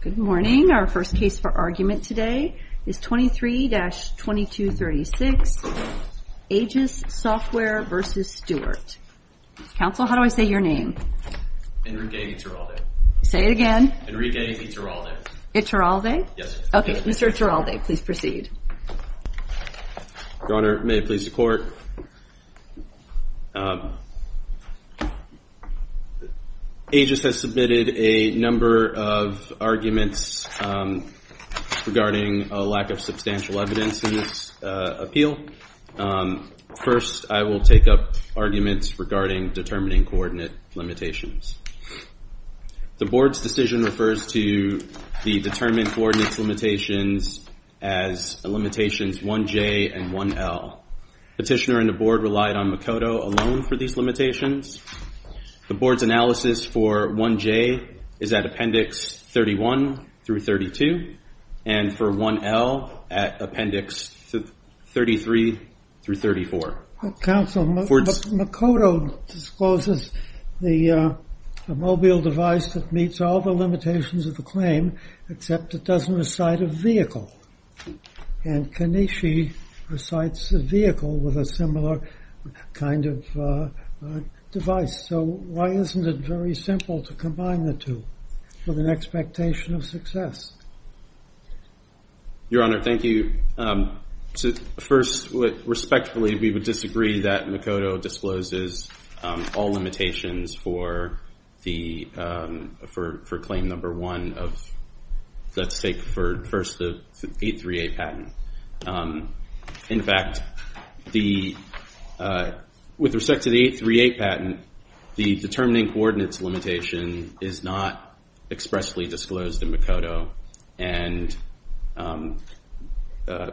Good morning. Our first case for argument today is 23-2236 AGIS Software v. Stewart. Counsel, how do I say your name? Enrique Iturralde. Say it again. Enrique Iturralde. Iturralde? Yes. Okay. Mr. Iturralde, please proceed. Your Honor, may it please the Court. AGIS has submitted a number of arguments regarding a lack of substantial evidence in this appeal. First, I will take up arguments regarding determining coordinate limitations. The Board's decision refers to the determined coordinate limitations as limitations 1J and 1L. Petitioner and the Board relied on Makoto alone for these limitations. The Board's analysis for 1J is at Appendix 31 through 32 and for 1L at Appendix 33 through 34. Counsel, Makoto discloses the mobile device that meets all the limitations of the claim except it doesn't recite a vehicle. And Kaneshi recites a vehicle with a similar kind of device. So why isn't it very simple to combine the two with an expectation of success? Your Honor, thank you. First, respectfully, we would disagree that Makoto discloses all limitations for claim number 1 of 838 patent. In fact, with respect to the 838 patent, the determining coordinates limitation is not expressly disclosed in Makoto. And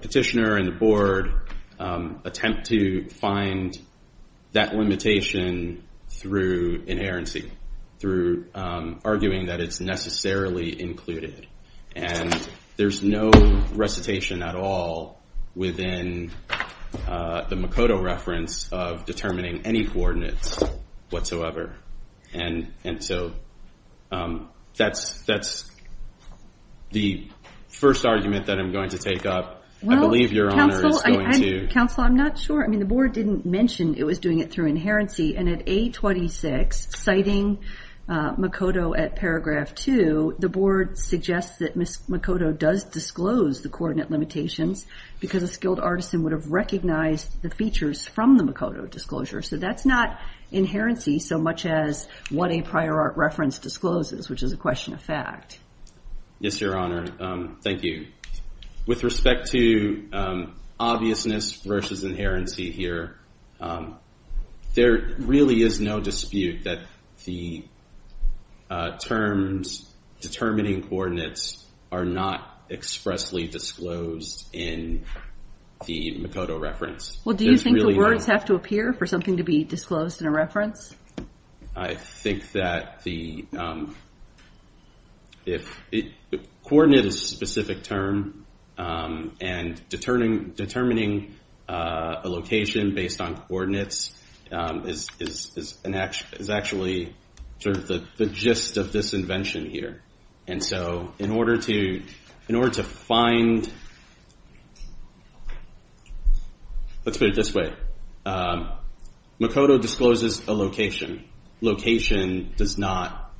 Petitioner and the Board attempt to find that limitation through inerrancy, through arguing that it's necessarily included. And there's no recitation at all within the Makoto reference of determining any coordinates whatsoever. And so that's the first argument that I'm going to take up. I believe Your Honor is going to... Counsel, I'm not sure. I mean, the Board didn't mention it was doing it through inherency. And at 826, citing Makoto at paragraph 2, the Board suggests that Makoto does disclose the coordinate limitations because a skilled artisan would have recognized the features from the Makoto disclosure. So that's not inherency so much as what a prior art reference discloses, which is a question of fact. Yes, Your Honor. Thank you. With respect to obviousness versus inherency here, there really is no dispute that the terms determining coordinates are not expressly disclosed in the Makoto reference. Well, do you think the words have to appear for something to be disclosed in a reference? I think that the coordinate is a specific term. And determining a location based on coordinates is actually sort of the gist of this invention here. And so in order to find... Let's put it this way. Makoto discloses a location. Location does not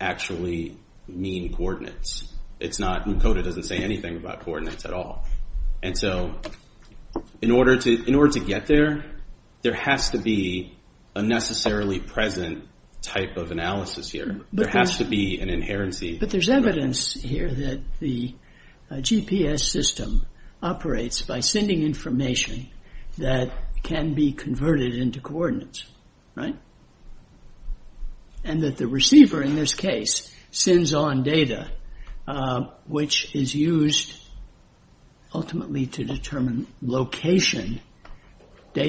actually mean coordinates. Makoto doesn't say anything about coordinates at all. And so in order to get there, there has to be a necessarily present type of analysis here. There has to be an inherency. But there's evidence here that the GPS system operates by sending information that can be converted into coordinates. And that the receiver in this case sends on data which is used ultimately to determine location,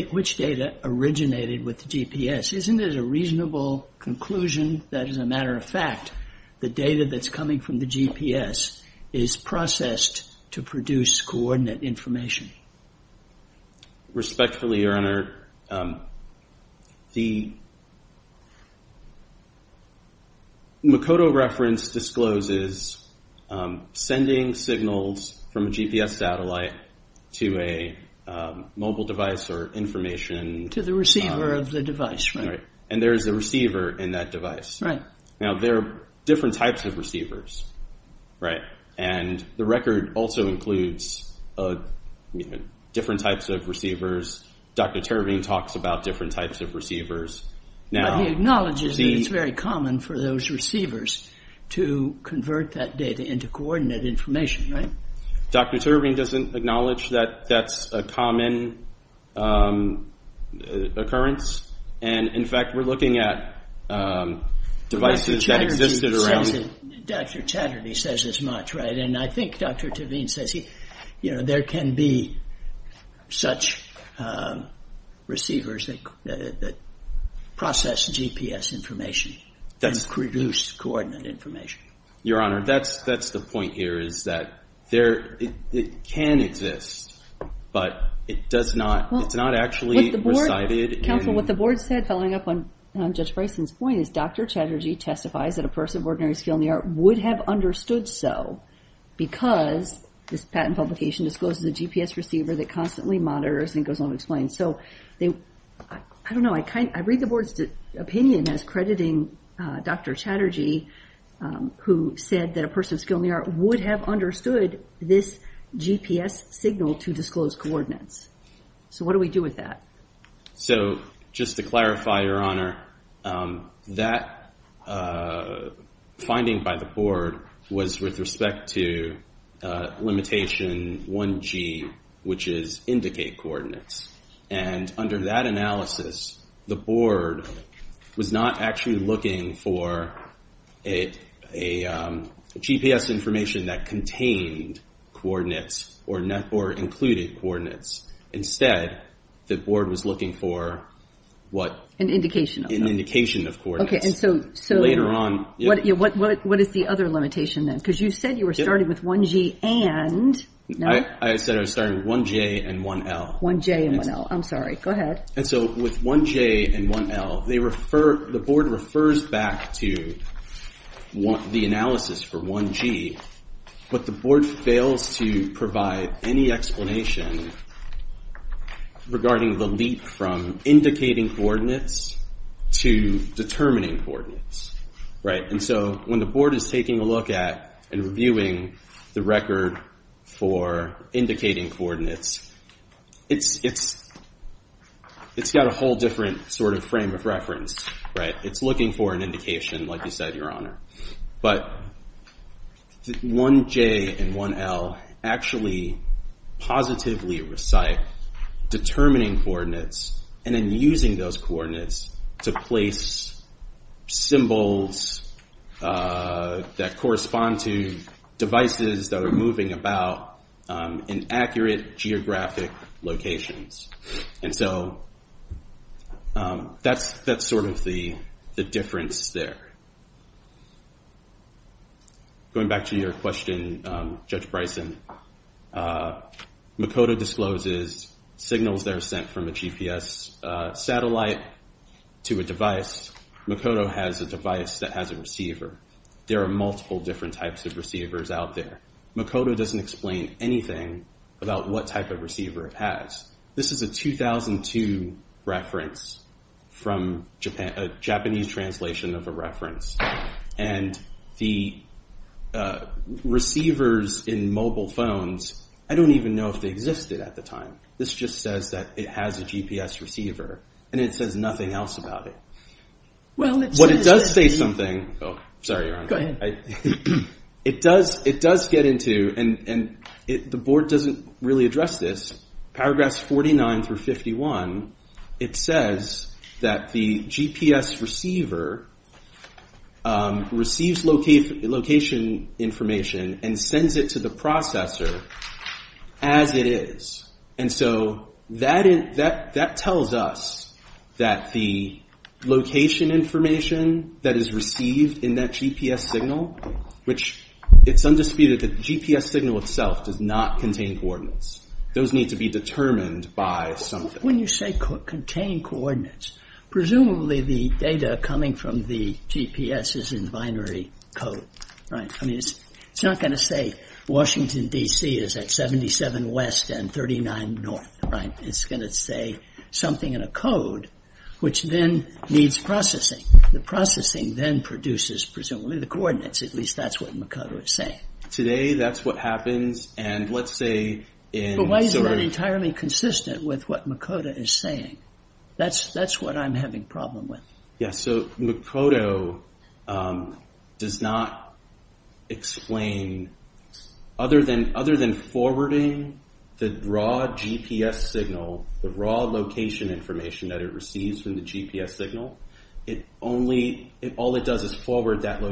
which data originated with the GPS. Isn't it a reasonable conclusion that as a matter of fact the data that's coming from the GPS is processed to produce coordinate information? Respectfully, Your Honor, the Makoto reference discloses sending signals from a GPS satellite to a mobile device or information... To the receiver of the device, right. Right. And there is a receiver in that device. Right. Now there are different types of receivers, right. And the record also includes different types of receivers. Dr. Teravine talks about different types of receivers. Now... But he acknowledges that it's very common for those receivers to convert that data into coordinate information, right? Dr. Teravine doesn't acknowledge that that's a common occurrence. And, in fact, we're looking at devices that existed around... Dr. Chatterty says as much, right. And I think Dr. Teravine says there can be such receivers that process GPS information and produce coordinate information. Your Honor, that's the point here is that it can exist, but it's not actually recited in... So what the board said, following up on Judge Bryson's point, is Dr. Chatterty testifies that a person of ordinary skill in the art would have understood so because this patent publication discloses a GPS receiver that constantly monitors and goes unexplained. So I don't know. I read the board's opinion as crediting Dr. Chatterty, who said that a person of skill in the art would have understood this GPS signal to disclose coordinates. So what do we do with that? So just to clarify, Your Honor, that finding by the board was with respect to limitation 1G, which is indicate coordinates. And under that analysis, the board was not actually looking for a GPS information that contained coordinates or included coordinates. Instead, the board was looking for what? An indication. An indication of coordinates. Okay, and so... Later on... What is the other limitation then? Because you said you were starting with 1G and... I said I was starting with 1J and 1L. 1J and 1L. I'm sorry. Go ahead. And so with 1J and 1L, the board refers back to the analysis for 1G, but the board fails to provide any explanation regarding the leap from indicating coordinates to determining coordinates. And so when the board is taking a look at and reviewing the record for indicating coordinates, it's got a whole different sort of frame of reference. It's looking for an indication, like you said, Your Honor. But 1J and 1L actually positively recite determining coordinates and then using those coordinates to place symbols that correspond to devices that are moving about in accurate geographic locations. And so that's sort of the difference there. Going back to your question, Judge Bryson, Makoto discloses signals that are sent from a GPS satellite to a device. Makoto has a device that has a receiver. There are multiple different types of receivers out there. Makoto doesn't explain anything about what type of receiver it has. This is a 2002 reference from a Japanese translation of a reference. And the receivers in mobile phones, I don't even know if they existed at the time. This just says that it has a GPS receiver, and it says nothing else about it. What it does say something—oh, sorry, Your Honor. Go ahead. It does get into—and the board doesn't really address this. Paragraphs 49 through 51, it says that the GPS receiver receives location information and sends it to the processor as it is. And so that tells us that the location information that is received in that GPS signal, which it's undisputed that the GPS signal itself does not contain coordinates. Those need to be determined by something. When you say contain coordinates, presumably the data coming from the GPS is in binary code, right? I mean, it's not going to say Washington, D.C. is at 77 west and 39 north, right? It's going to say something in a code, which then needs processing. The processing then produces, presumably, the coordinates. At least that's what Makoto is saying. Today, that's what happens, and let's say— But why isn't that entirely consistent with what Makoto is saying? That's what I'm having a problem with. Yeah, so Makoto does not explain—other than forwarding the raw GPS signal, the raw location information that it receives from the GPS signal, all it does is forward that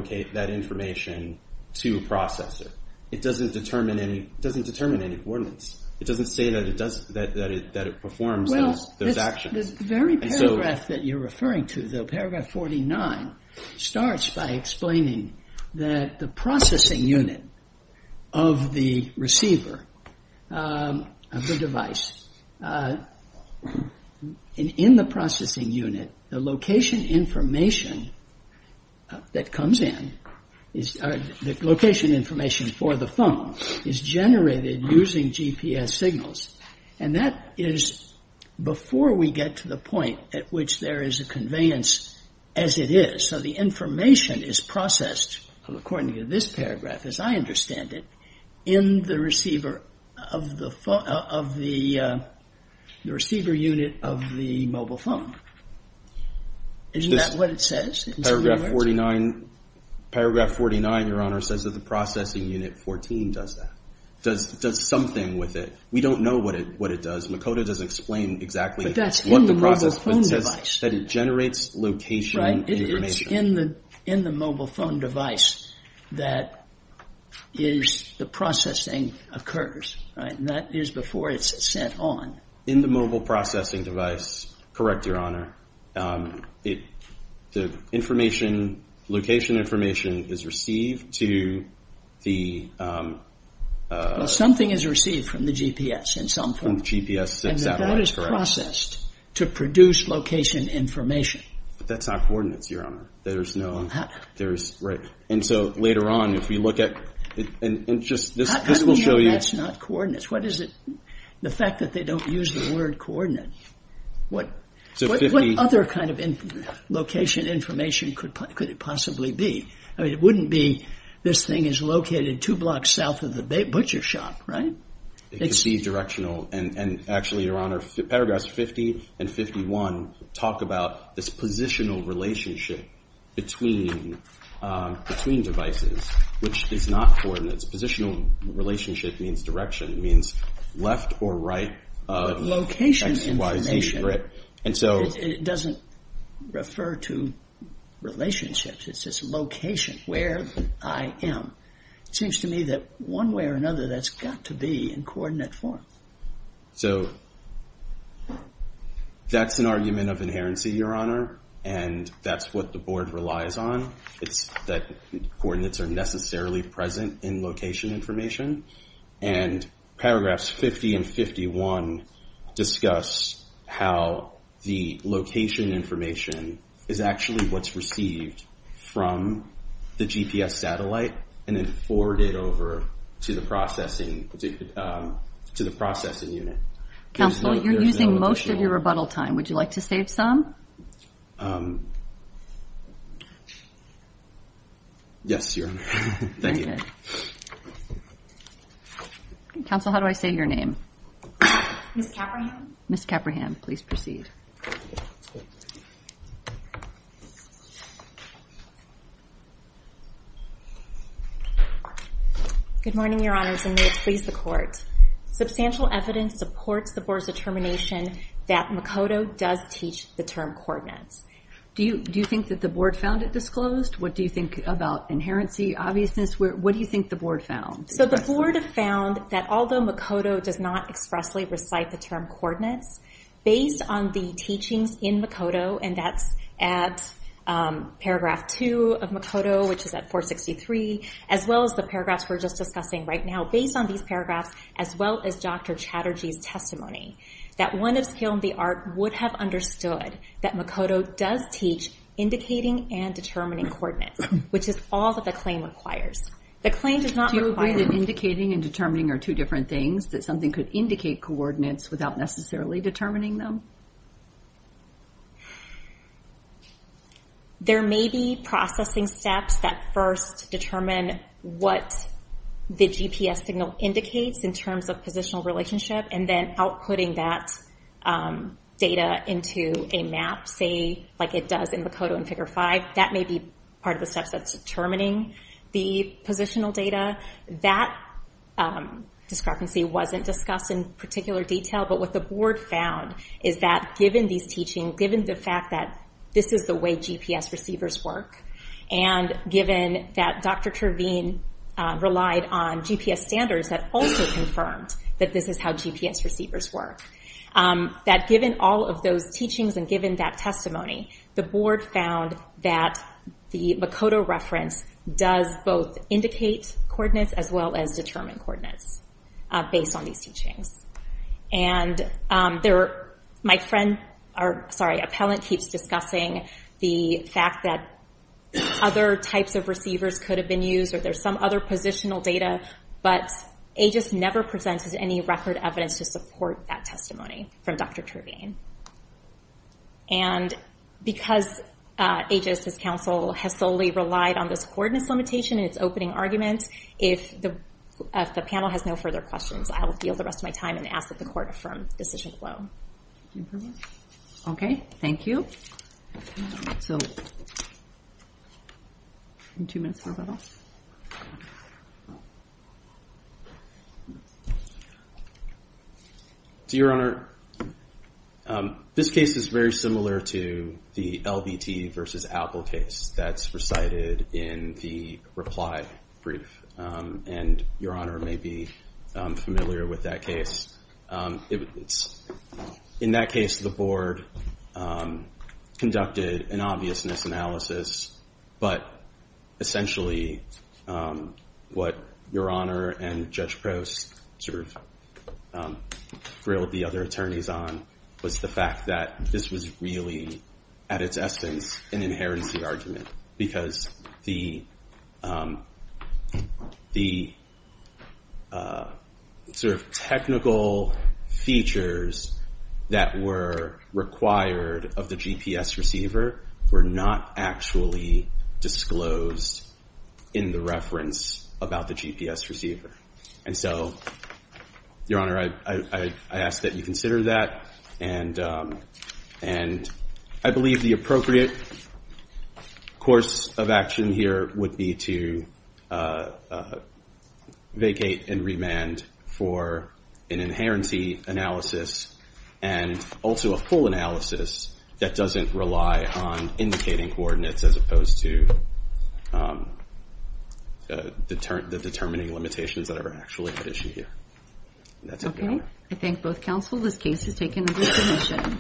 information to a processor. It doesn't determine any coordinates. It doesn't say that it performs those actions. Well, the very paragraph that you're referring to, the paragraph 49, starts by explaining that the processing unit of the receiver, of the device, in the processing unit, the location information that comes in, the location information for the phone, is generated using GPS signals. And that is before we get to the point at which there is a conveyance as it is. So the information is processed, according to this paragraph, as I understand it, in the receiver unit of the mobile phone. Isn't that what it says? Paragraph 49, Your Honor, says that the processing unit 14 does that, does something with it. We don't know what it does. Makoto doesn't explain exactly what the process— But that's in the mobile phone device. —that it generates location information. So it's in the mobile phone device that the processing occurs, right? And that is before it's sent on. In the mobile processing device, correct, Your Honor. The information, location information, is received to the— Well, something is received from the GPS in some form. From the GPS satellite, correct. And that is processed to produce location information. But that's not coordinates, Your Honor. There's no— And so later on, if we look at— How do we know that's not coordinates? What is it—the fact that they don't use the word coordinate. What other kind of location information could it possibly be? It wouldn't be this thing is located two blocks south of the butcher shop, right? It could be directional. And actually, Your Honor, paragraphs 50 and 51 talk about this positional relationship between devices, which is not coordinates. Positional relationship means direction. It means left or right. Location information. And so— It doesn't refer to relationships. It's just location, where I am. It seems to me that one way or another, that's got to be in coordinate form. So, that's an argument of inherency, Your Honor. And that's what the Board relies on. It's that coordinates are necessarily present in location information. And paragraphs 50 and 51 discuss how the location information is actually what's received from the GPS satellite and then forwarded over to the processing unit. Counsel, you're using most of your rebuttal time. Would you like to save some? Yes, Your Honor. Thank you. Counsel, how do I say your name? Ms. Capraham. Ms. Capraham, please proceed. Good morning, Your Honors, and may it please the Court. Substantial evidence supports the Board's determination that Makoto does teach the term coordinates. Do you think that the Board found it disclosed? What do you think about inherency, obviousness? What do you think the Board found? So, the Board found that although Makoto does not expressly recite the term coordinates, based on the teachings in Makoto, and that's at paragraph 2 of Makoto, which is at 463, as well as the paragraphs we're just discussing right now, based on these paragraphs, as well as Dr. Chatterjee's testimony, that one of skill in the art would have understood that Makoto does teach indicating and determining coordinates, which is all that the claim requires. The claim does not require... Do you agree that indicating and determining are two different things, that something could indicate coordinates without necessarily determining them? There may be processing steps that first determine what the GPS signal indicates in terms of positional relationship, and then outputting that data into a map, say, like it does in Makoto in Figure 5. That may be part of the steps that's determining the positional data. That discrepancy wasn't discussed in particular detail, but what the Board found is that given these teachings, given the fact that this is the way GPS receivers work, and given that Dr. Terveen relied on GPS standards that also confirmed that this is how GPS receivers work, that given all of those teachings and given that testimony, the Board found that the Makoto reference does both indicate coordinates as well as determine coordinates based on these teachings. And my friend... Sorry, appellant keeps discussing the fact that other types of receivers could have been used or there's some other positional data, but AEGIS never presented any record evidence to support that testimony from Dr. Terveen. And because AEGIS' counsel has solely relied on this coordinates limitation in its opening argument, if the panel has no further questions, I will yield the rest of my time and ask that the court affirm decision flow. Okay, thank you. Two minutes for rebuttal. Your Honor, this case is very similar to the LBT versus Apple case that's recited in the reply brief, and Your Honor may be familiar with that case. In that case, the Board conducted an obviousness analysis, but essentially what Your Honor and Judge Prost sort of grilled the other attorneys on was the fact that this was really, at its essence, an inherency argument because the sort of technical features that were required of the GPS receiver were not actually disclosed in the reference about the GPS receiver. And so, Your Honor, I ask that you consider that, and I believe the appropriate course of action here would be to vacate and remand for an inherency analysis and also a full analysis that doesn't rely on indicating coordinates as opposed to the determining limitations that are actually at issue here. That's it, Your Honor. Okay, I thank both counsel. This case is taken as a submission.